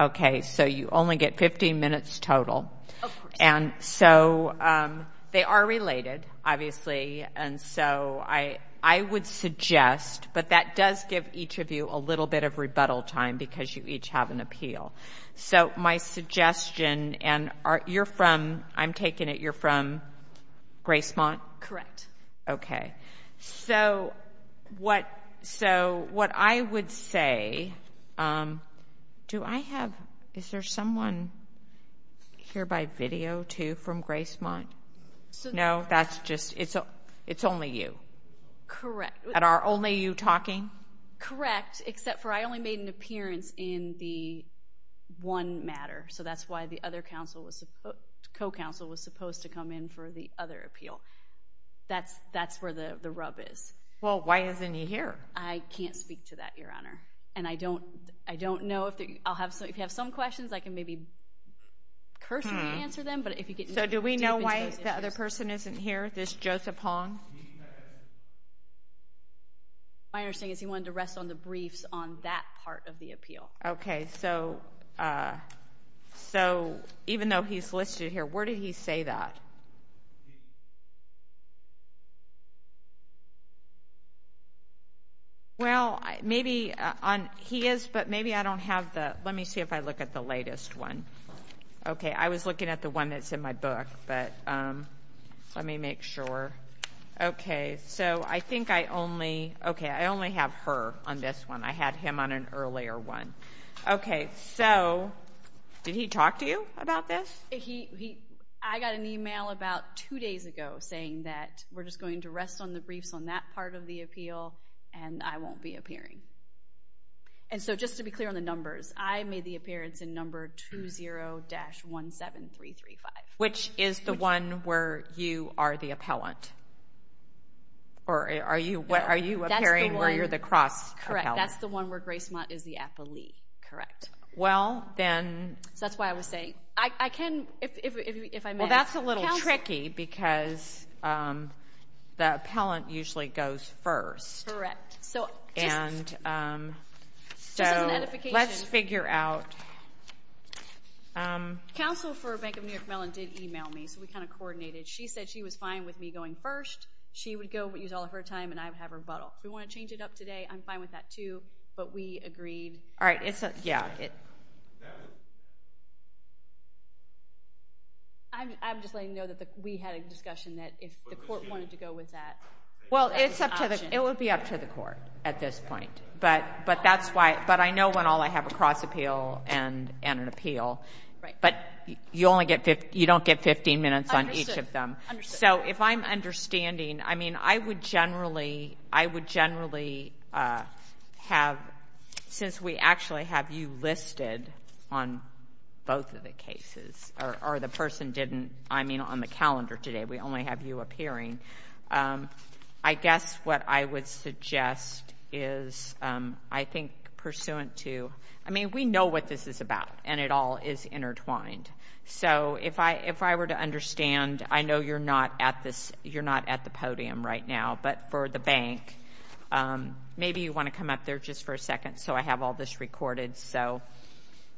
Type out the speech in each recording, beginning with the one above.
Okay, so you only get 15 minutes total and so They are related obviously and so I I would suggest But that does give each of you a little bit of rebuttal time because you each have an appeal So my suggestion and are you're from I'm taking it you're from Grace month, correct. Okay, so What so what I would say Um, do I have is there someone? Here by video to from Grace month. So no, that's just it's a it's only you Correct at our only you talking correct, except for I only made an appearance in the One matter so that's why the other council was a co-counsel was supposed to come in for the other appeal That's that's where the the rub is. Well, why isn't he here? I can't speak to that your honor, and I don't I don't know if I'll have so if you have some questions I can maybe Personally answer them. But if you get so do we know why the other person isn't here this Joseph Hong? My understanding is he wanted to rest on the briefs on that part of the appeal, okay, so So even though he's listed here, where did he say that Well, maybe on he is but maybe I don't have the let me see if I look at the latest one okay, I was looking at the one that's in my book, but Let me make sure Okay, so I think I only okay. I only have her on this one. I had him on an earlier one. Okay, so Did he talk to you about this? He I got an email about two days ago saying that we're just going to rest on the briefs on that part of the appeal and I won't be appearing and So just to be clear on the numbers. I made the appearance in number two zero dash one seven three three five Which is the one where you are the appellant? Or are you what are you appearing where you're the cross? Correct? That's the one where Grace Mott is the appellee, correct? Well, then that's why I was saying I can if I'm that's a little tricky because The appellant usually goes first so and So let's figure out Counsel for Bank of New York melon did email me so we kind of coordinated She said she was fine with me going first She would go but use all of her time and I have her but we want to change it up today I'm fine with that too, but we agreed. All right. It's a yeah I'm just letting you know that we had a discussion that if the court wanted to go with that Well, it's up to the it would be up to the court at this point But but that's why but I know when all I have a cross appeal and and an appeal But you only get 50 you don't get 15 minutes on each of them So if I'm understanding, I mean, I would generally I would generally have Since we actually have you listed on Both of the cases or the person didn't I mean on the calendar today? We only have you appearing I guess what I would suggest is I think Pursuant to I mean we know what this is about and it all is intertwined So if I if I were to understand, I know you're not at this. You're not at the podium right now, but for the bank Maybe you want to come up there just for a second. So I have all this recorded. So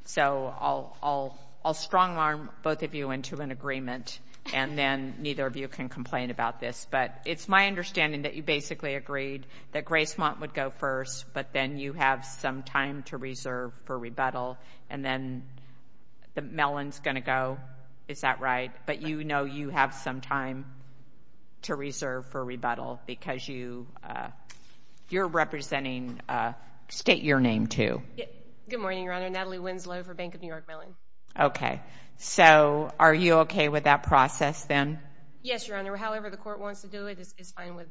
So I'll I'll I'll strong arm both of you into an agreement and then neither of you can complain about this But it's my understanding that you basically agreed that grace want would go first but then you have some time to reserve for rebuttal and then The melons gonna go is that right? But you know, you have some time to reserve for rebuttal because you You're representing State your name to good morning, Your Honor Natalie Winslow for Bank of New York Mellon. Okay So, are you okay with that process then yes, your honor, however, the court wants to do it is fine with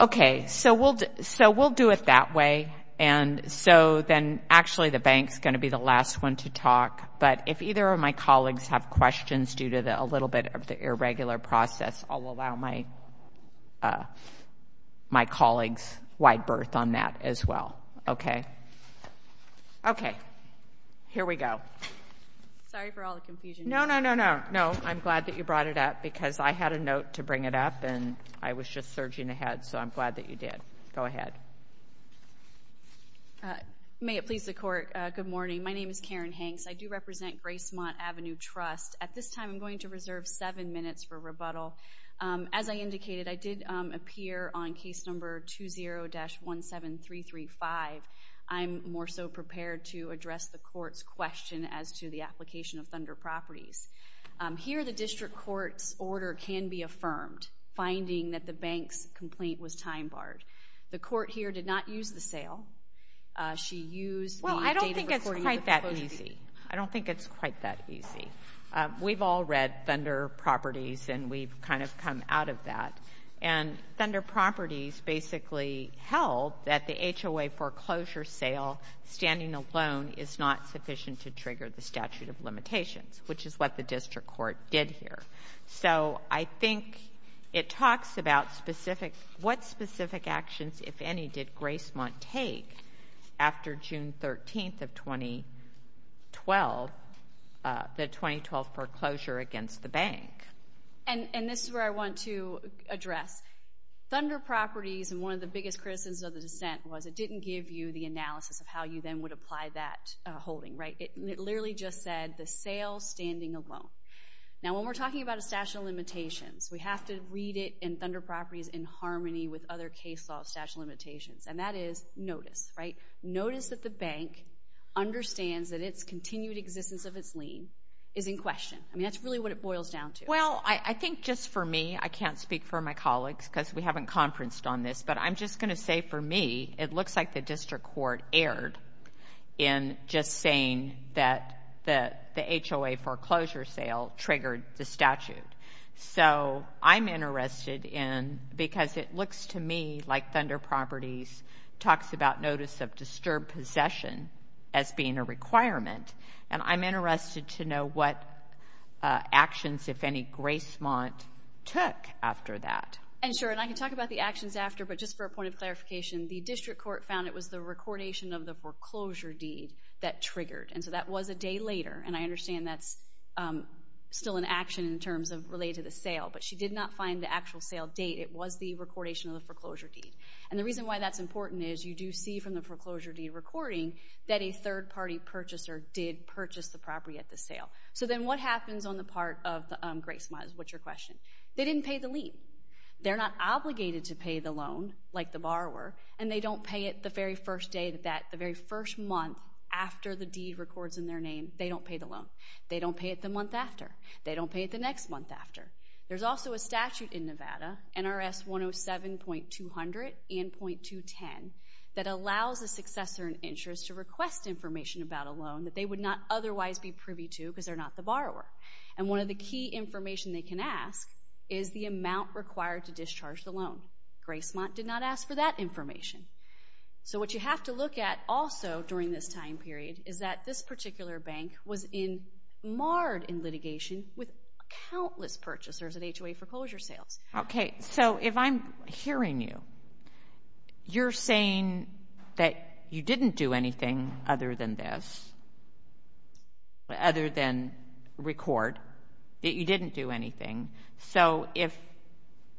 Okay, so we'll so we'll do it that way And so then actually the bank's gonna be the last one to talk but if either of my colleagues have questions due to the a little bit of the irregular process, I'll allow my My colleagues wide berth on that as well, okay Okay Here we go Sorry for all the confusion. No, no, no No I'm glad that you brought it up because I had a note to bring it up and I was just surging ahead So I'm glad that you did go ahead May it please the court. Good morning. My name is Karen Hanks. I do represent Grace Mott Avenue Trust at this time I'm going to reserve seven minutes for rebuttal as I indicated I did appear on case number 2 0 dash 1 7 3 3 5 I'm more so prepared to address the court's question as to the application of Thunder Properties Here the district courts order can be affirmed finding that the bank's complaint was time-barred the court here did not use the sale She used well, I don't think it's quite that easy. I don't think it's quite that easy we've all read Thunder Properties and we've kind of come out of that and Thunder Properties basically held that the HOA foreclosure sale Standing alone is not sufficient to trigger the statute of limitations, which is what the district court did here So I think it talks about specific what specific actions if any did Grace Mott take after June 13th of 2012 The 2012 foreclosure against the bank and and this is where I want to address Thunder Properties and one of the biggest criticisms of the dissent was it didn't give you the analysis of how you then would apply that Holding right it literally just said the sale standing alone now when we're talking about a statute of limitations We have to read it in Thunder Properties in harmony with other case law statute limitations, and that is notice right notice that the bank Understands that its continued existence of its lien is in question. I mean, that's really what it boils down to well I think just for me I can't speak for my colleagues because we haven't conferenced on this, but I'm just gonna say for me It looks like the district court erred in Just saying that that the HOA foreclosure sale triggered the statute So I'm interested in because it looks to me like Thunder Properties talks about notice of disturbed possession as being a requirement and I'm interested to know what Actions if any Gracemont took after that and sure and I can talk about the actions after but just for a point of clarification The district court found it was the recordation of the foreclosure deed that triggered and so that was a day later and I understand that's Still an action in terms of related to the sale, but she did not find the actual sale date It was the recordation of the foreclosure deed and the reason why that's important is you do see from the foreclosure deed recording that a third-party Purchaser did purchase the property at the sale. So then what happens on the part of the Gracemont? What's your question? They didn't pay the lien They're not obligated to pay the loan like the borrower and they don't pay it the very first day that that the very first month After the deed records in their name, they don't pay the loan. They don't pay it the month after they don't pay it the next month after there's also a statute in Nevada NRS 107 point two hundred and point two ten that allows a Successor and insurance to request information about a loan that they would not otherwise be privy to because they're not the borrower and one of the Key information they can ask is the amount required to discharge the loan Gracemont did not ask for that information So what you have to look at also during this time period is that this particular bank was in In litigation with countless purchasers and HOA foreclosure sales, okay, so if I'm hearing you You're saying that you didn't do anything other than this Other than Record that you didn't do anything. So if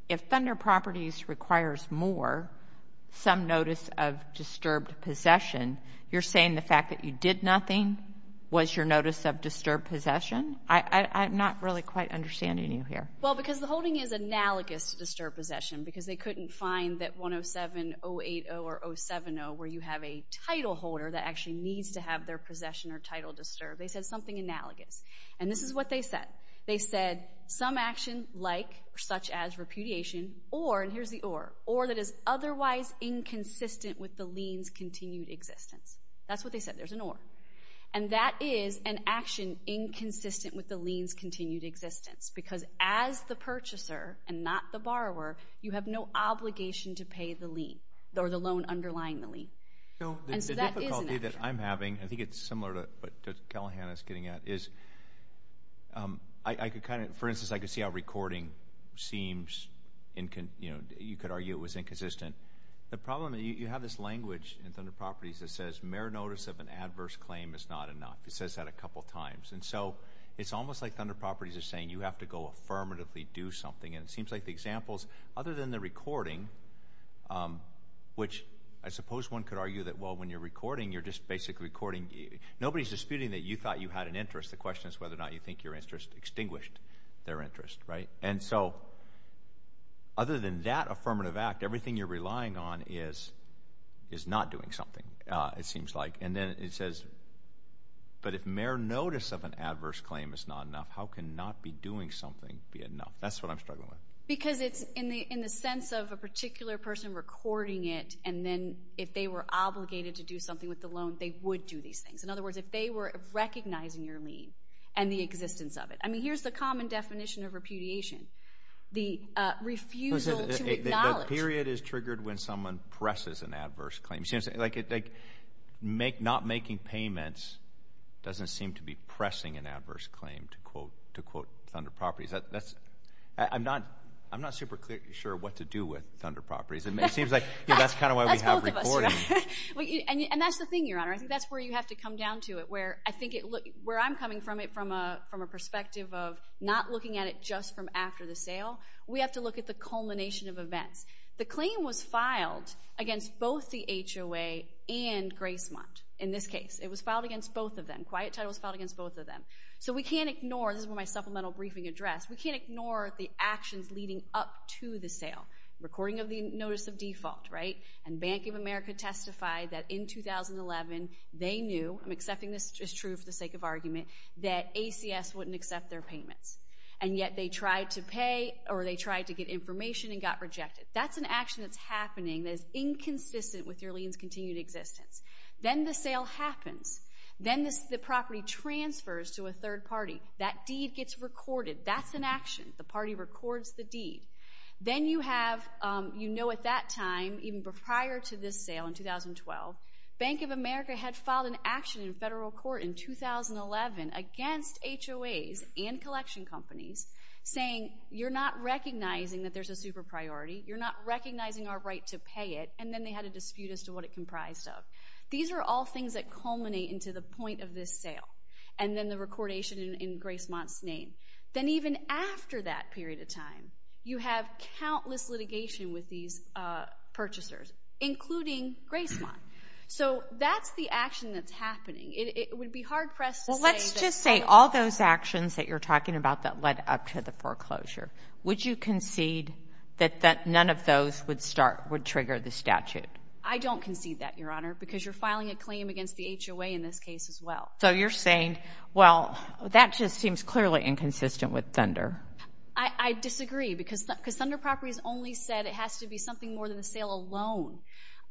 if Thunder Properties requires more Some notice of disturbed possession. You're saying the fact that you did nothing Was your notice of disturbed possession, I I'm not really quite understanding you here well because the holding is analogous to disturbed possession because they couldn't find that 107 0 8 0 or 0 7 0 where you have a Title holder that actually needs to have their possession or title disturbed They said something analogous and this is what they said They said some action like such as repudiation or and here's the or or that is otherwise Inconsistent with the liens continued existence. That's what they said. There's an or and that is an action inconsistent with the liens continued existence because as the Purchaser and not the borrower you have no obligation to pay the lien or the loan underlying the lien That I'm having. I think it's similar to what Callahan is getting at is I could kind of for instance, I could see how recording seems in can you know, you could argue The problem that you have this language in Thunder Properties that says mere notice of an adverse claim is not enough It says that a couple times and so it's almost like Thunder Properties is saying you have to go Affirmatively do something and it seems like the examples other than the recording Which I suppose one could argue that well when you're recording you're just basically recording Nobody's disputing that you thought you had an interest. The question is whether or not you think your interest extinguished their interest, right? And so other than that affirmative act everything you're relying on is is not doing something it seems like and then it says But if mere notice of an adverse claim is not enough, how can not be doing something be enough? That's what I'm struggling with because it's in the in the sense of a particular person Recording it and then if they were obligated to do something with the loan They would do these things in other words if they were recognizing your lien and the existence of it I mean, here's the common definition of repudiation The Period is triggered when someone presses an adverse claim seems like it make not making payments Doesn't seem to be pressing an adverse claim to quote to quote Thunder Properties That's that's I'm not I'm not super clearly sure what to do with Thunder Properties and it seems like yeah That's kind of why we have And that's the thing your honor I think that's where you have to come down to it where I think it look where I'm coming from it from a from a After-the-sale, we have to look at the culmination of events. The claim was filed against both the HOA and Gracemont in this case it was filed against both of them quiet titles filed against both of them So we can't ignore this is where my supplemental briefing address We can't ignore the actions leading up to the sale Recording of the notice of default right and Bank of America testified that in 2011 they knew I'm accepting this is true for the sake of argument that ACS wouldn't accept their payments and yet they tried to pay or they tried to get information and got rejected. That's an action That's happening that is inconsistent with your liens continued existence Then the sale happens then this the property transfers to a third party that deed gets recorded That's an action the party records the deed then you have you know at that time even prior to this sale in 2012 Bank of America had filed an action in federal court in 2011 against HOAs and collection companies saying you're not recognizing that there's a super priority You're not recognizing our right to pay it and then they had a dispute as to what it comprised of These are all things that culminate into the point of this sale and then the recordation in Gracemont's name Then even after that period of time you have countless litigation with these Purchasers including Gracemont. So that's the action that's happening Well, let's just say all those actions that you're talking about that led up to the foreclosure Would you concede that that none of those would start would trigger the statute? I don't concede that your honor because you're filing a claim against the HOA in this case as well So you're saying well that just seems clearly inconsistent with Thunder I I disagree because because Thunder Properties only said it has to be something more than the sale alone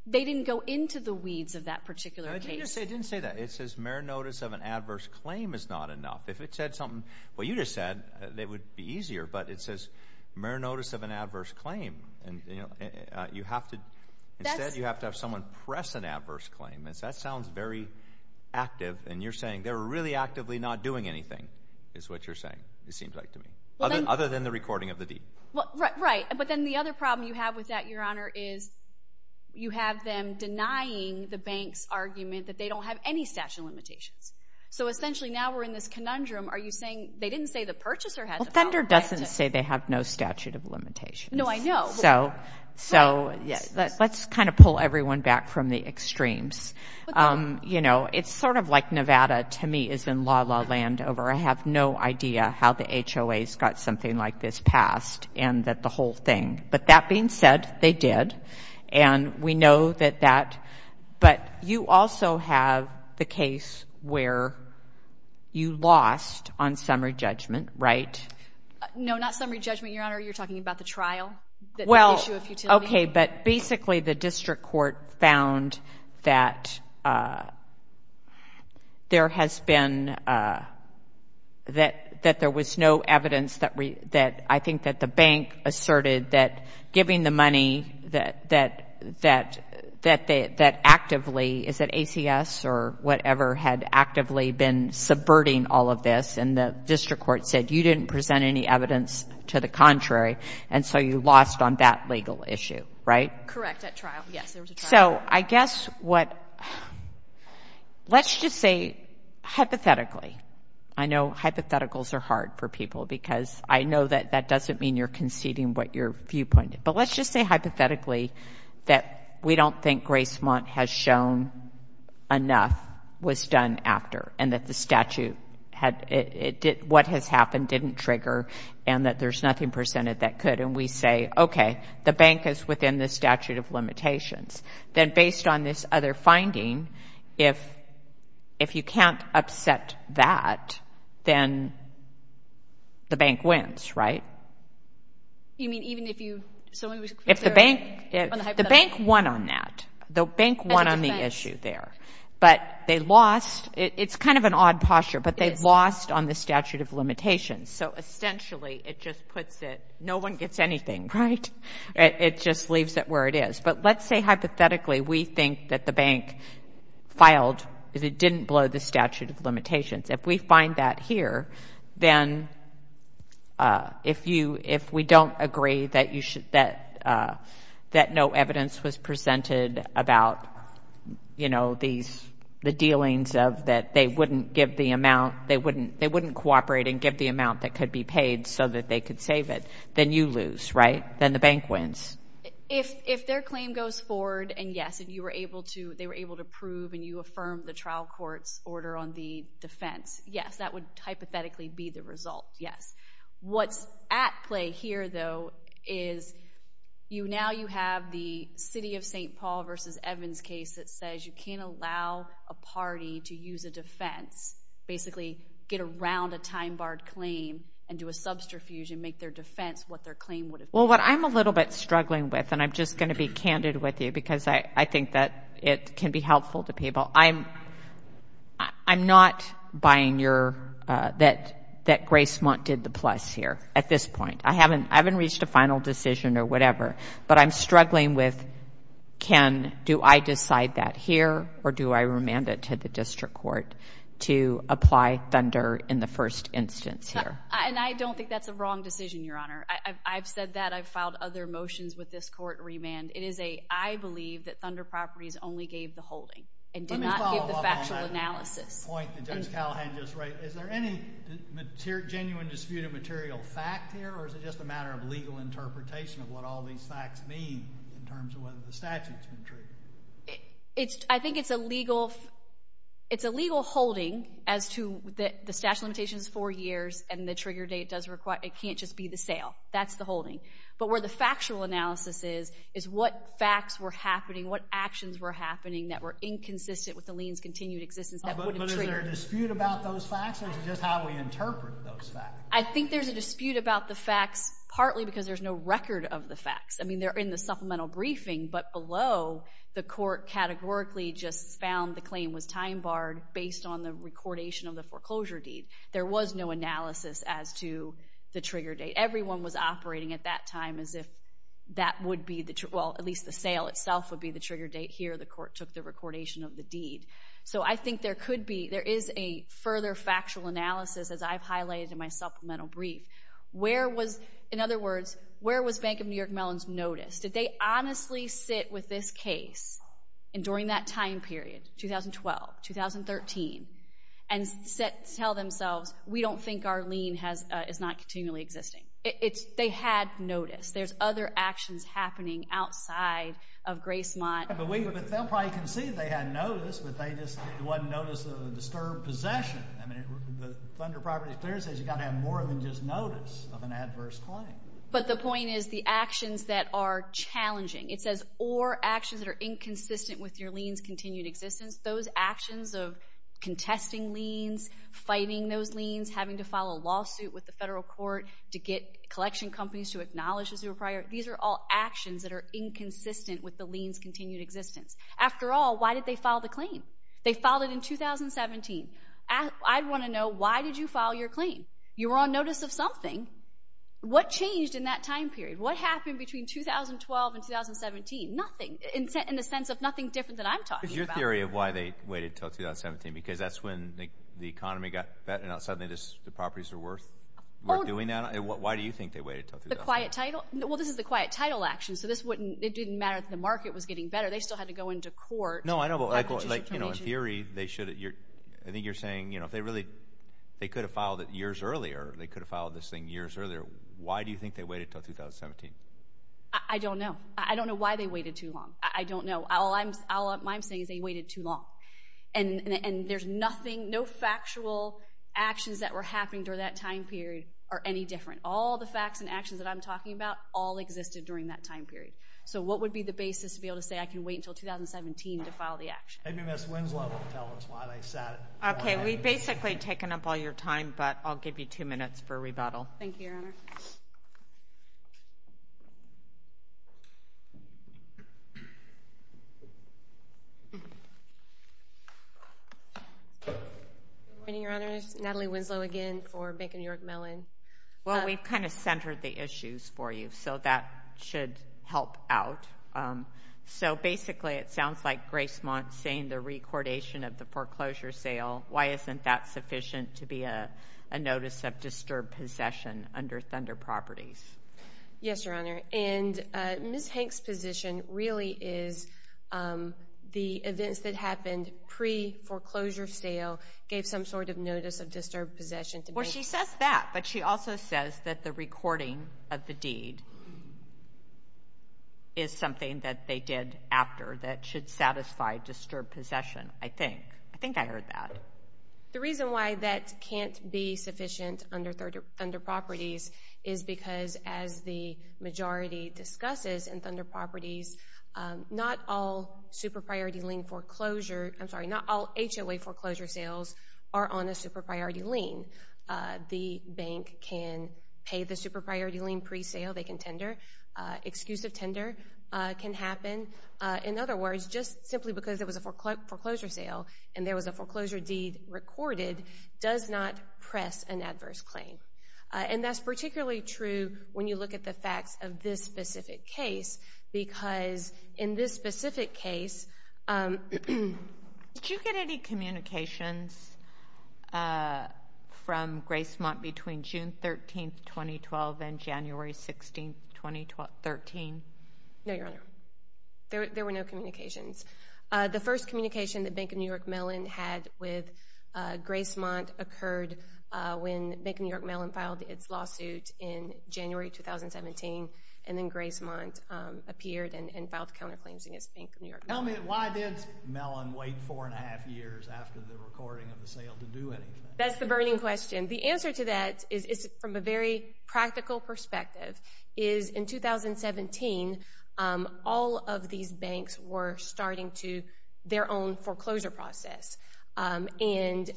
They didn't go into the weeds of that particular case I didn't say that it says mere notice of an adverse claim is not enough if it said something Well, you just said they would be easier, but it says mere notice of an adverse claim and you know You have to instead you have to have someone press an adverse claim. It's that sounds very Active and you're saying they're really actively not doing anything is what you're saying It seems like to me other than the recording of the deed Right, but then the other problem you have with that your honor is You have them denying the bank's argument that they don't have any statute of limitations So essentially now we're in this conundrum. Are you saying they didn't say the purchaser had Thunder doesn't say they have no statute of limitations No, I know so so yeah, let's kind of pull everyone back from the extremes You know, it's sort of like Nevada to me has been la la land over I have no idea how the HOA's got something like this passed and that the whole thing but that being said they did and We know that that but you also have the case where? You lost on summary judgment, right? No, not summary judgment your honor. You're talking about the trial. Well, okay, but basically the district court found that There has been That that there was no evidence that we that I think that the bank asserted that giving the money that that that That they that actively is that ACS or whatever had actively been Subverting all of this and the district court said you didn't present any evidence to the contrary And so you lost on that legal issue, right? So I guess what? Let's just say Hypothetically, I know hypotheticals are hard for people because I know that that doesn't mean you're conceding what your viewpoint But let's just say hypothetically that we don't think grace month has shown Enough was done after and that the statute had it did what has happened didn't trigger and that there's nothing Percented that could and we say okay the bank is within the statute of limitations then based on this other finding if If you can't upset that then The bank wins, right? You mean even if you if the bank the bank won on that the bank won on the issue there But they lost it's kind of an odd posture, but they've lost on the statute of limitations So essentially it just puts it no one gets anything, right? It just leaves it where it is. But let's say hypothetically we think that the bank Filed is it didn't blow the statute of limitations if we find that here then If you if we don't agree that you should that That no evidence was presented about You know these the dealings of that they wouldn't give the amount they wouldn't they wouldn't cooperate and give the amount that could be paid So that they could save it then you lose right then the bank wins If if their claim goes forward and yes And you were able to they were able to prove and you affirm the trial court's order on the defense Yes, that would hypothetically be the result. Yes, what's at play here though is You now you have the city of st. Paul versus Evans case that says you can't allow a party to use a defense Basically get around a time-barred claim and do a subterfuge and make their defense what their claim would well I'm a little bit struggling with and I'm just gonna be candid with you because I I think that it can be helpful to people I'm I'm not buying your that that grace want did the plus here at this point I haven't I haven't reached a final decision or whatever, but I'm struggling with Can do I decide that here or do I remand it to the district court? To apply thunder in the first instance here, and I don't think that's a wrong decision. Your honor. I've said that I've Filed other motions with this court remand. It is a I believe that Thunder Properties only gave the holding and did not give the factual analysis Is there any Genuine disputed material fact here or is it just a matter of legal interpretation of what all these facts mean in terms of whether the statute? It's I think it's a legal It's a legal holding as to that the statute limitations four years and the trigger date does require it can't just be the sale That's the holding but where the factual analysis is is what facts were happening? What actions were happening that were inconsistent with the liens continued existence that? I think there's a dispute about the facts partly because there's no record of the facts I mean they're in the supplemental briefing But below the court categorically just found the claim was time-barred based on the recordation of the foreclosure deed There was no analysis as to the trigger date Everyone was operating at that time as if that would be the truth Well at least the sale itself would be the trigger date here the court took the recordation of the deed So I think there could be there is a further factual analysis as I've highlighted in my supplemental brief Where was in other words where was Bank of New York Mellon's notice did they honestly sit with this case? and during that time period 2012 2013 and Tell themselves we don't think our lien has is not continually existing. It's they had notice There's other actions happening outside of Grace Mott But we were but they'll probably can see they had noticed, but they just wasn't notice of a disturbed possession I mean the funder property clearances you got to have more than just notice of an adverse claim But the point is the actions that are challenging it says or actions that are inconsistent with your liens continued existence those actions of Contesting liens Fighting those liens having to file a lawsuit with the federal court to get collection companies to acknowledge as your prior These are all actions that are inconsistent with the liens continued existence after all why did they file the claim they filed it in? 2017 and I want to know why did you file your claim you were on notice of something? What changed in that time period what happened between 2012 and 2017 nothing in the sense of nothing different than I'm talking your theory of? They waited till 2017 because that's when the economy got better now suddenly this the properties are worth We're doing that why do you think they waited till the quiet title? No, well, this is the quiet title action, so this wouldn't it didn't matter the market was getting better They still had to go into court no I don't like you know in theory they should at your I think you're saying you know if they really They could have filed it years earlier. They could have filed this thing years earlier. Why do you think they waited till 2017? I don't know. I don't know why they waited too long. I don't know all I'm all up I'm saying is they waited too long and There's nothing no factual Actions that were happening during that time period are any different all the facts and actions that I'm talking about all Existed during that time period so what would be the basis to be able to say I can wait until 2017 to file the action Okay, we've basically taken up all your time, but I'll give you two minutes for rebuttal I Mean your honor's Natalie Winslow again for Bank of New York melon Well, we've kind of centered the issues for you, so that should help out So basically it sounds like grace month saying the recordation of the foreclosure sale Why isn't that sufficient to be a notice of disturbed possession under Thunder properties? Yes, your honor and miss Hanks position really is The events that happened pre foreclosure sale gave some sort of notice of disturbed possession to me She says that but she also says that the recording of the deed is Something that they did after that should satisfy disturbed possession. I think I think I heard that the reason why that can't be sufficient under third under properties is because as the majority discusses in Thunder properties Not all Superpriority lien foreclosure. I'm sorry not all HOA foreclosure sales are on a super priority lien The bank can pay the super priority lien presale. They can tender Excusive tender can happen in other words just simply because it was a foreclosure sale and there was a foreclosure deed Recorded does not press an adverse claim And that's particularly true when you look at the facts of this specific case because in this specific case Did you get any communications From grace month between June 13 2012 and January 16 2013 no, your honor There were no communications. The first communication that Bank of New York Mellon had with Grace month occurred when Bank of New York Mellon filed its lawsuit in January 2017 and then grace month appeared and filed counterclaims against Bank of New York Tell me why did Mellon wait four and a half years after the recording of the sale to do it? That's the burning question. The answer to that is from a very practical perspective is in 2017 all of these banks were starting to their own foreclosure process And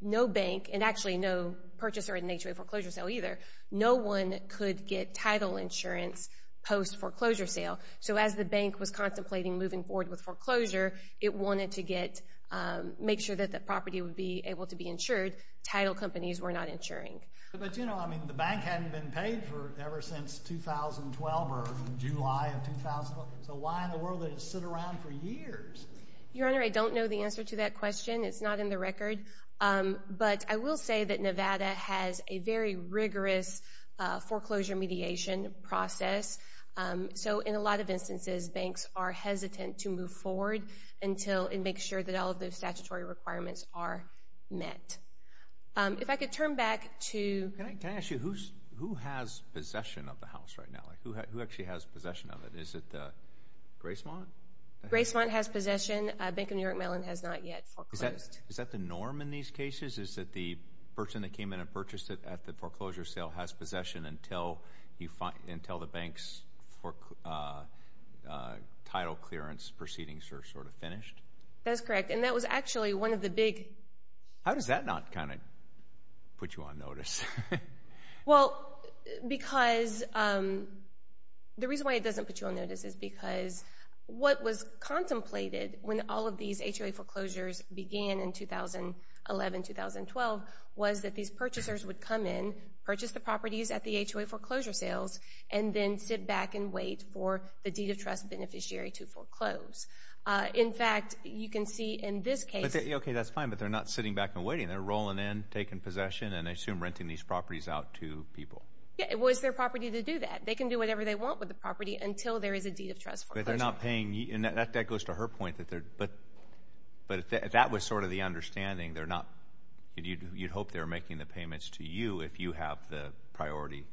No bank and actually no purchaser in nature a foreclosure sale either No one could get title insurance post foreclosure sale So as the bank was contemplating moving forward with foreclosure, it wanted to get Make sure that the property would be able to be insured title companies were not insuring But you know, I mean the bank hadn't been paid for ever since 2012 or July of 2000. So why in the world is sit around for years your honor? I don't know the answer to that question. It's not in the record But I will say that Nevada has a very rigorous foreclosure mediation process So in a lot of instances banks are hesitant to move forward until it makes sure that all of those statutory requirements are met if I could turn back to Who has possession of the house right now who actually has possession of it? Is it? Grace one grace one has possession Bank of New York Mellon has not yet Is that the norm in these cases is that the person that came in and purchased it at the foreclosure sale has possession until? You find until the bank's work Title clearance proceedings are sort of finished. That's correct. And that was actually one of the big how does that not kind of? Put you on notice well because The reason why it doesn't put you on notice is because What was contemplated when all of these HOA foreclosures began in 2011 2012? was that these purchasers would come in purchase the properties at the HOA foreclosure sales and then sit back and wait for the deed of Trust beneficiary to foreclose In fact, you can see in this case. Okay, that's fine But they're not sitting back and waiting they're rolling in taking possession and I assume renting these properties out to people It was their property to do that they can do whatever they want with the property until there is a deed of trust but they're not paying you and that that goes to her point that they're but But that was sort of the understanding. They're not You'd hope they're making the payments to you if you have the priority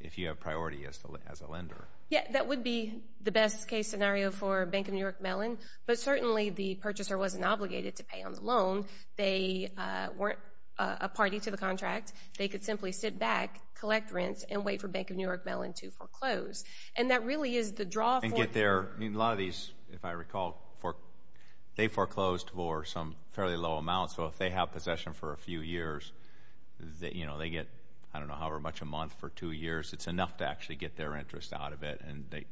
if you have priority as a lender Yeah, that would be the best case scenario for Bank of New York Mellon But certainly the purchaser wasn't obligated to pay on the loan. They Weren't a party to the contract they could simply sit back collect rents and wait for Bank of New York Mellon to foreclose and that really is the draw and get there a lot of these if I recall for They foreclosed for some fairly low amount. So if they have possession for a few years That you know, they get I don't know however much a month for two years it's enough to actually get their interest out of it and they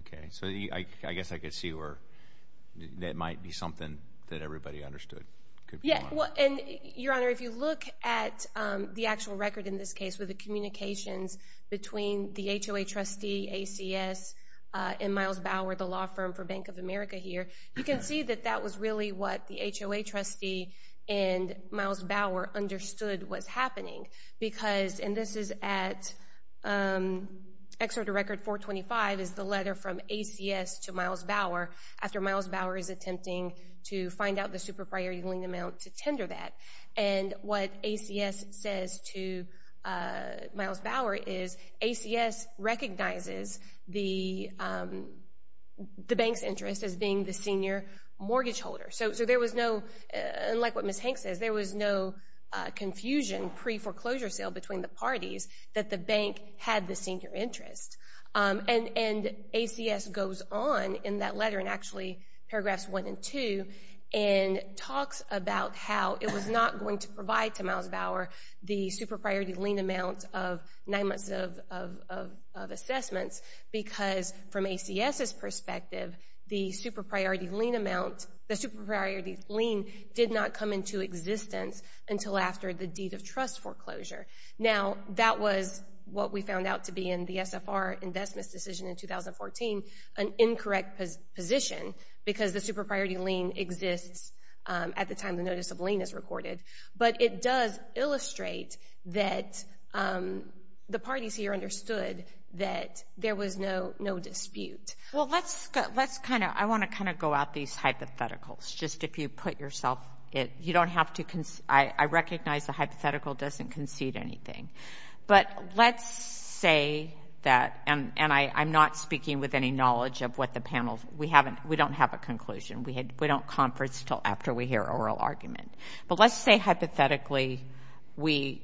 Okay, so I guess I could see where That might be something that everybody understood Yeah, well and your honor if you look at the actual record in this case with the communications between the HOA trustee ACS In Miles Bauer the law firm for Bank of America here. You can see that that was really what the HOA trustee and Miles Bauer understood what's happening because and this is at Excerpt a record 425 is the letter from ACS to Miles Bauer after Miles Bauer is attempting to find out the super priority lien amount to tender that and what ACS says to Miles Bauer is ACS recognizes the The bank's interest as being the senior mortgage holder, so there was no Like what miss Hank says there was no Confusion pre foreclosure sale between the parties that the bank had the senior interest and and ACS goes on in that letter and actually paragraphs one and two and talks about how it was not going to provide to miles Bauer the super priority lien amount of nine months of assessments because from ACS's perspective the super priority lien amount the super priority lien did not come into Existence until after the deed of trust foreclosure now that was what we found out to be in the SFR investments decision in 2014 an incorrect position because the super priority lien exists at the time the notice of lien is recorded, but it does illustrate that The parties here understood that there was no no dispute Well, let's let's kind of I want to kind of go out these hypotheticals You don't have to I recognize the hypothetical doesn't concede anything But let's say that and and I I'm not speaking with any knowledge of what the panels We haven't we don't have a conclusion. We had we don't conference till after we hear oral argument, but let's say hypothetically we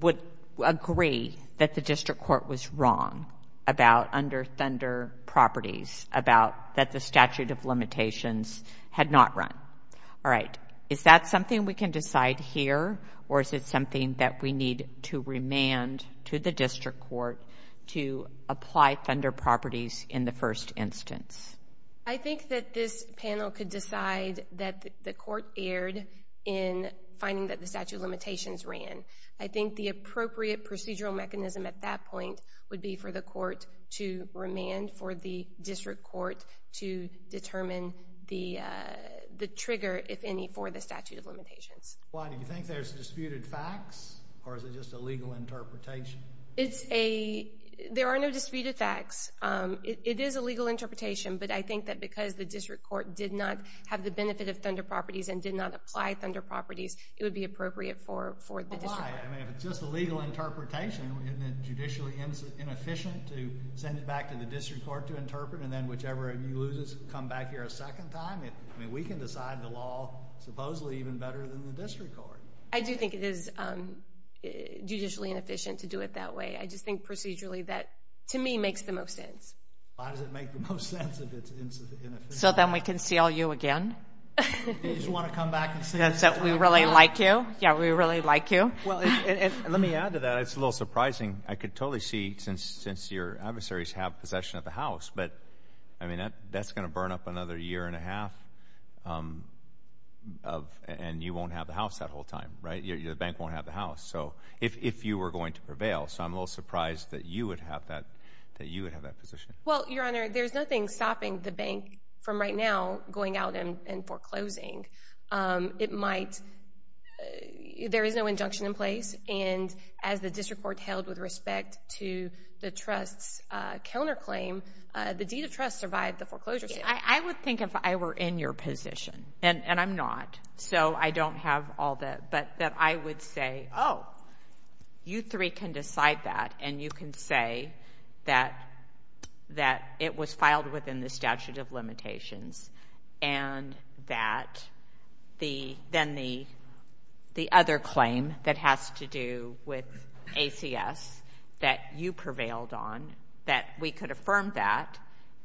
Would agree that the district court was wrong about under Thunder Properties about that the statute of limitations had not run All right Is that something we can decide here or is it something that we need to remand to the district court? To apply Thunder properties in the first instance I think that this panel could decide that the court erred in Finding that the statute of limitations ran I think the appropriate procedural mechanism at that point would be for the court to remand for the district court to determine the The trigger if any for the statute of limitations Why do you think there's disputed facts or is it just a legal interpretation? It's a there are no disputed facts It is a legal interpretation But I think that because the district court did not have the benefit of Thunder properties and did not apply Thunder properties It would be appropriate for for the just a legal interpretation Inefficient to send it back to the district court to interpret and then whichever of you loses come back here a second time I mean we can decide the law Supposedly even better than the district court. I do think it is Judicially inefficient to do it that way. I just think procedurally that to me makes the most sense So then we can see all you again That's that we really like you yeah, we really like you well Let me add to that. It's a little surprising I could totally see since since your adversaries have possession of the house But I mean that that's gonna burn up another year and a half Of and you won't have the house that whole time right your bank won't have the house So if you were going to prevail, so I'm a little surprised that you would have that that you would have that position well There's nothing stopping the bank from right now going out and foreclosing it might There is no injunction in place and as the district court held with respect to the trust's counterclaim The deed of trust survived the foreclosure I would think if I were in your position and and I'm not so I don't have all that but that I would say oh You three can decide that and you can say that That it was filed within the statute of limitations and that the then the The other claim that has to do with ACS that you prevailed on that We could affirm that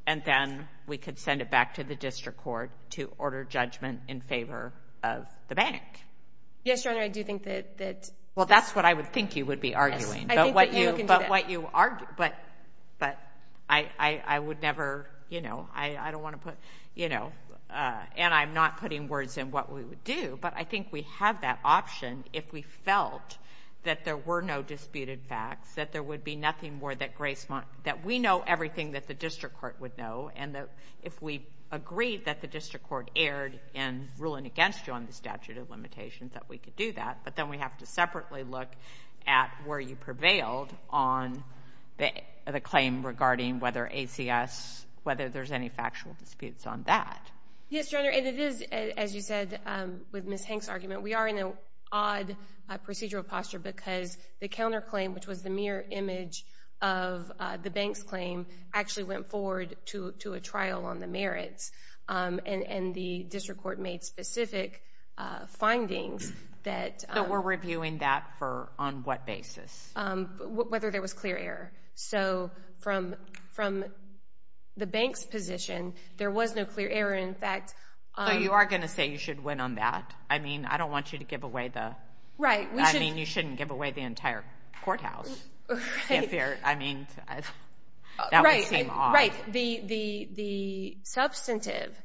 and then we could send it back to the district court to order judgment in favor of the bank Yes, your honor. I do think that that well, that's what I would think you would be arguing But what you argue but but I I would never you know, I I don't want to put you know And I'm not putting words in what we would do But I think we have that option if we felt That there were no disputed facts that there would be nothing more that grace month that we know everything that the district court would know and that if we Agreed that the district court erred and ruling against you on the statute of limitations that we could do that but then we have to separately look at where you prevailed on the Claim regarding whether ACS whether there's any factual disputes on that Yes, your honor and it is as you said with miss Hanks argument we are in a odd procedural posture because the counterclaim which was the mirror image of The bank's claim actually went forward to to a trial on the merits And and the district court made specific Findings that so we're reviewing that for on what basis Whether there was clear error. So from from The bank's position there was no clear error. In fact, you are gonna say you should win on that I mean, I don't want you to give away the right. I mean you shouldn't give away the entire courthouse there, I mean Right the the the substantive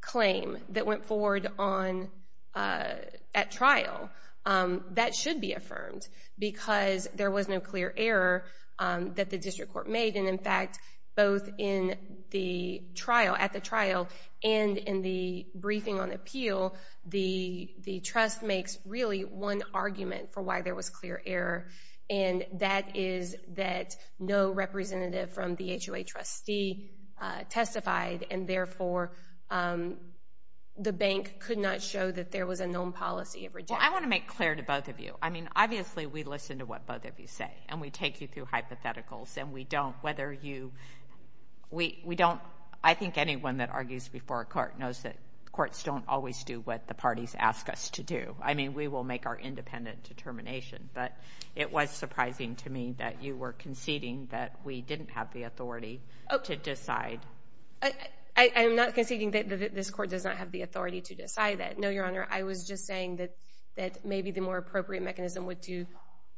Claim that went forward on at trial That should be affirmed because there was no clear error that the district court made and in fact both in the trial at the trial and in the briefing on appeal the the trust makes really one argument for why there was clear error and That is that no representative from the HOA trustee testified and therefore The bank could not show that there was a known policy every time I want to make clear to both of you I mean, obviously we listen to what both of you say and we take you through hypotheticals and we don't whether you We we don't I think anyone that argues before a court knows that courts don't always do what the parties ask us to do I mean, we will make our independent determination But it was surprising to me that you were conceding that we didn't have the authority to decide I am NOT conceding that this court does not have the authority to decide that. No, your honor I was just saying that that may be the more appropriate mechanism would to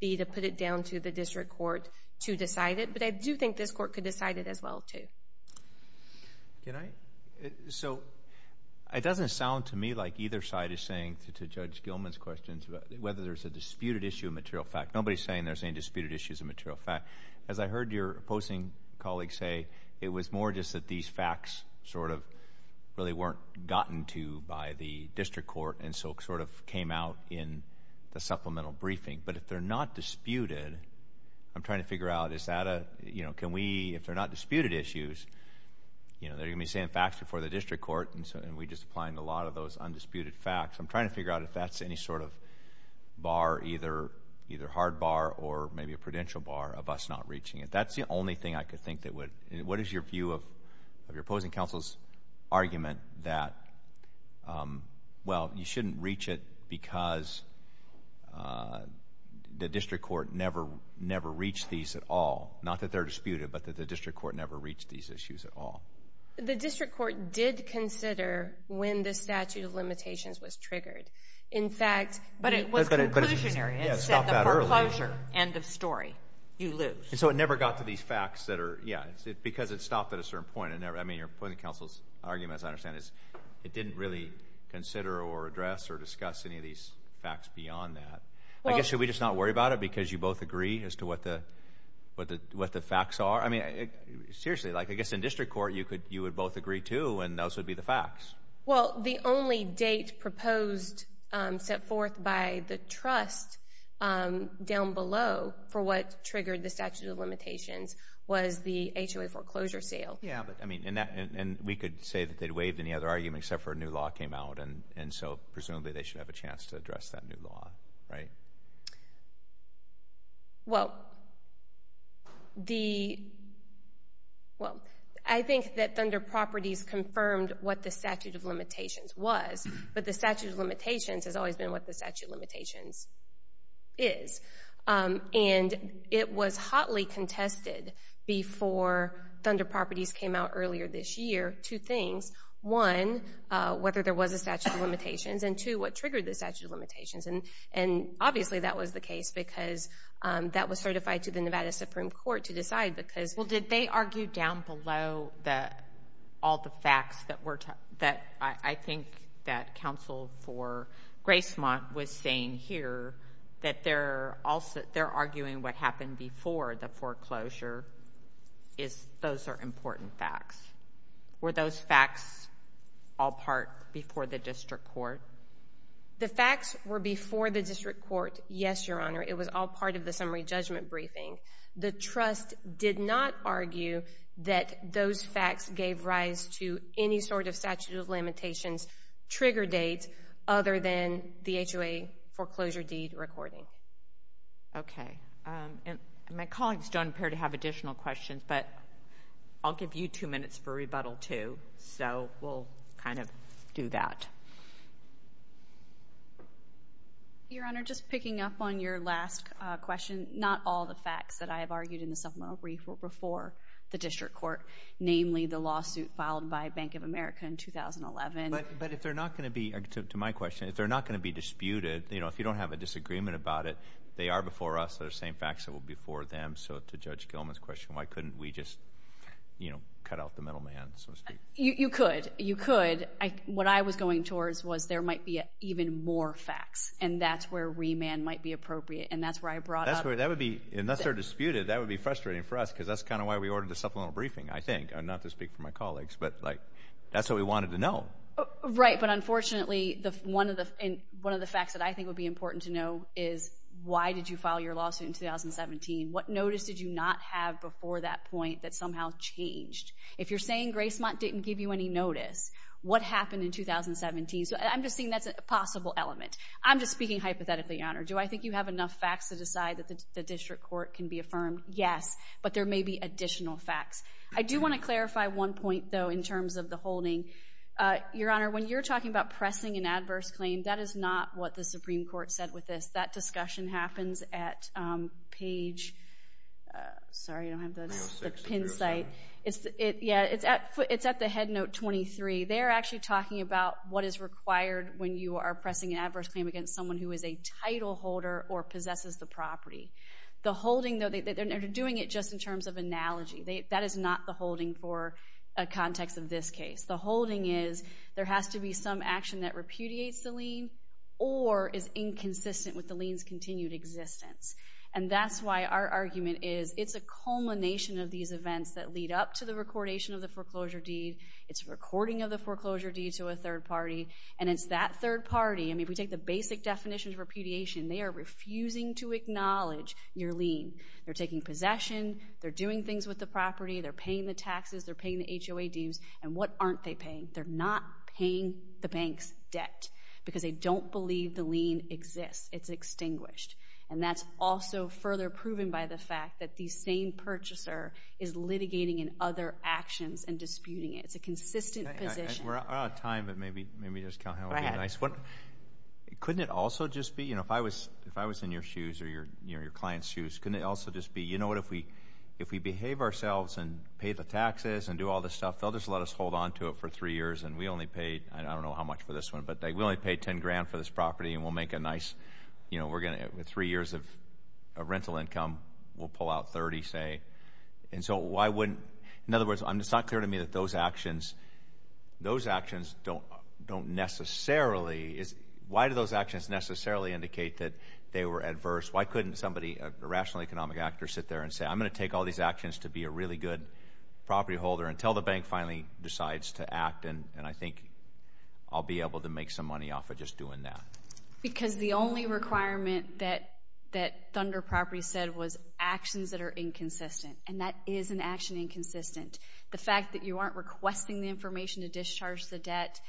Be to put it down to the district court to decide it, but I do think this court could decide it as well, too You know so It doesn't sound to me like either side is saying to judge Gilman's questions Whether there's a disputed issue of material fact Nobody's saying there's any disputed issues of material fact as I heard your opposing colleagues say it was more just that these facts sort of Really weren't gotten to by the district court and so sort of came out in the supplemental briefing But if they're not disputed, I'm trying to figure out is that a you know, can we if they're not disputed issues? You know, they're gonna be saying facts before the district court and so and we just applying a lot of those undisputed facts I'm trying to figure out if that's any sort of Bar either either hard bar or maybe a prudential bar of us not reaching it. That's the only thing I could think that would What is your view of your opposing counsel's? argument that Well, you shouldn't reach it because The district court never never reached these at all not that they're disputed But that the district court never reached these issues at all The district court did consider when the statute of limitations was triggered in fact But it was better End of story you lose so it never got to these facts that are yeah It's because it stopped at a certain point and never I mean you're putting counsel's arguments I understand is it didn't really consider or address or discuss any of these facts beyond that I guess should we just not worry about it because you both agree as to what the what the what the facts are I mean it seriously like I guess in district court you could you would both agree to and those would be the facts Well the only date proposed set forth by the trust Down below for what triggered the statute of limitations was the HOA foreclosure sale Yeah But I mean in that and we could say that they'd waived any other argument except for a new law came out and and so Presumably they should have a chance to address that new law, right? Well The Well, I think that Thunder Properties confirmed what the statute of limitations was but the statute of limitations has always been what the statute limitations is and it was hotly contested before Thunder Properties came out earlier this year two things one whether there was a statute of limitations and to what triggered the statute of limitations and and obviously that was the case because That was certified to the Nevada Supreme Court to decide because well did they argue down below that all the facts that were That I think that counsel for Grace month was saying here that they're also They're arguing what happened before the foreclosure is Those are important facts Were those facts all part before the district court? The facts were before the district court, yes, your honor It was all part of the summary judgment briefing The trust did not argue that those facts gave rise to any sort of statute of limitations Trigger dates other than the HOA foreclosure deed recording Okay My colleagues don't appear to have additional questions, but I'll give you two minutes for rebuttal too. So we'll kind of do that Your Honor just picking up on your last Question not all the facts that I have argued in the supplemental brief will before the district court Namely the lawsuit filed by Bank of America in 2011 But but if they're not going to be active to my question if they're not going to be disputed You know, if you don't have a disagreement about it, they are before us that are saying facts that will be for them So to judge Gilman's question, why couldn't we just you know, cut out the middleman? You could you could I what I was going towards was there might be even more facts And that's where remand might be appropriate and that's where I brought that's where that would be unless they're disputed That would be frustrating for us because that's kind of why we ordered the supplemental briefing I think I'm not to speak for my colleagues, but like that's what we wanted to know Right, but unfortunately the one of the in one of the facts that I think would be important to know is Why did you file your lawsuit in 2017? What notice did you not have before that point that somehow changed if you're saying Grace Mott didn't give you any notice What happened in 2017? So I'm just saying that's a possible element. I'm just speaking hypothetically honor Do I think you have enough facts to decide that the district court can be affirmed? Yes, but there may be additional facts I do want to clarify one point though in terms of the holding Your honor when you're talking about pressing an adverse claim. That is not what the Supreme Court said with this that discussion happens at Page Sorry, I don't have the pin site. It's it. Yeah, it's at foot. It's at the head note 23 They're actually talking about what is required when you are pressing an adverse claim against someone who is a title holder or possesses the property The holding though, they're doing it just in terms of analogy They that is not the holding for a context of this case The holding is there has to be some action that repudiates the lien or is inconsistent with the liens continued existence And that's why our argument is it's a culmination of these events that lead up to the recordation of the foreclosure deed It's a recording of the foreclosure deed to a third party and it's that third party I mean if we take the basic definitions of repudiation, they are refusing to acknowledge your lien. They're taking possession They're doing things with the property. They're paying the taxes. They're paying the HOA dues and what aren't they paying? They're not paying the bank's debt because they don't believe the lien exists It's extinguished and that's also further proven by the fact that the same purchaser is Litigating in other actions and disputing it. It's a consistent position It couldn't it also just be you know, if I was if I was in your shoes or your your clients shoes Couldn't it also just be you know What if we if we behave ourselves and pay the taxes and do all this stuff? They'll just let us hold on to it for three years and we only paid I don't know how much for this one But they will only pay 10 grand for this property and we'll make a nice, you know We're gonna with three years of a rental income. We'll pull out 30 say and so why wouldn't in other words? I'm just not clear to me that those actions Those actions don't don't necessarily is why do those actions necessarily indicate that they were adverse? Why couldn't somebody a rational economic actor sit there and say I'm gonna take all these actions to be a really good Property holder until the bank finally decides to act and and I think I'll be able to make some money off of just doing that Because the only requirement that that Thunder Properties said was actions that are inconsistent and that is an action Inconsistent the fact that you aren't requesting the information to discharge the debt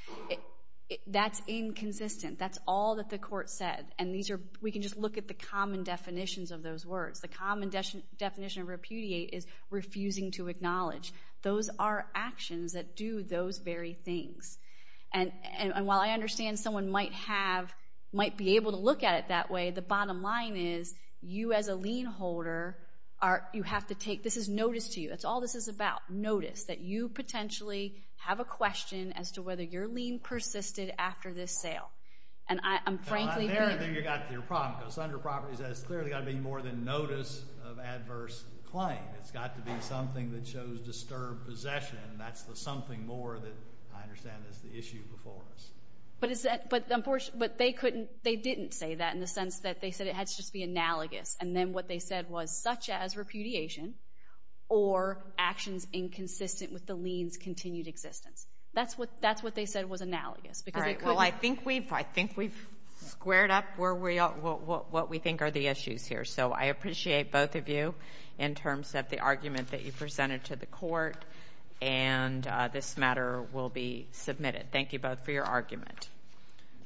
That's inconsistent That's all that the court said and these are we can just look at the common Definitions of those words the common definition of repudiate is refusing to acknowledge those are actions that do those very things and And while I understand someone might have might be able to look at it that way The bottom line is you as a lien holder are you have to take this is notice to you That's all this is about notice that you potentially have a question as to whether you're lien persisted after this sale And I'm frankly Under properties that it's clearly got to be more than notice of adverse claim It's got to be something that shows disturbed possession. That's the something more that I understand is the issue before us But is that but the abortion but they couldn't they didn't say that in the sense that they said it had to just be analogous and then what they said was such as repudiation or Actions inconsistent with the liens continued existence. That's what that's what they said was analogous because well I think we've I think we've squared up where we are what we think are the issues here so I appreciate both of you in terms of the argument that you presented to the court and This matter will be submitted. Thank you both for your argument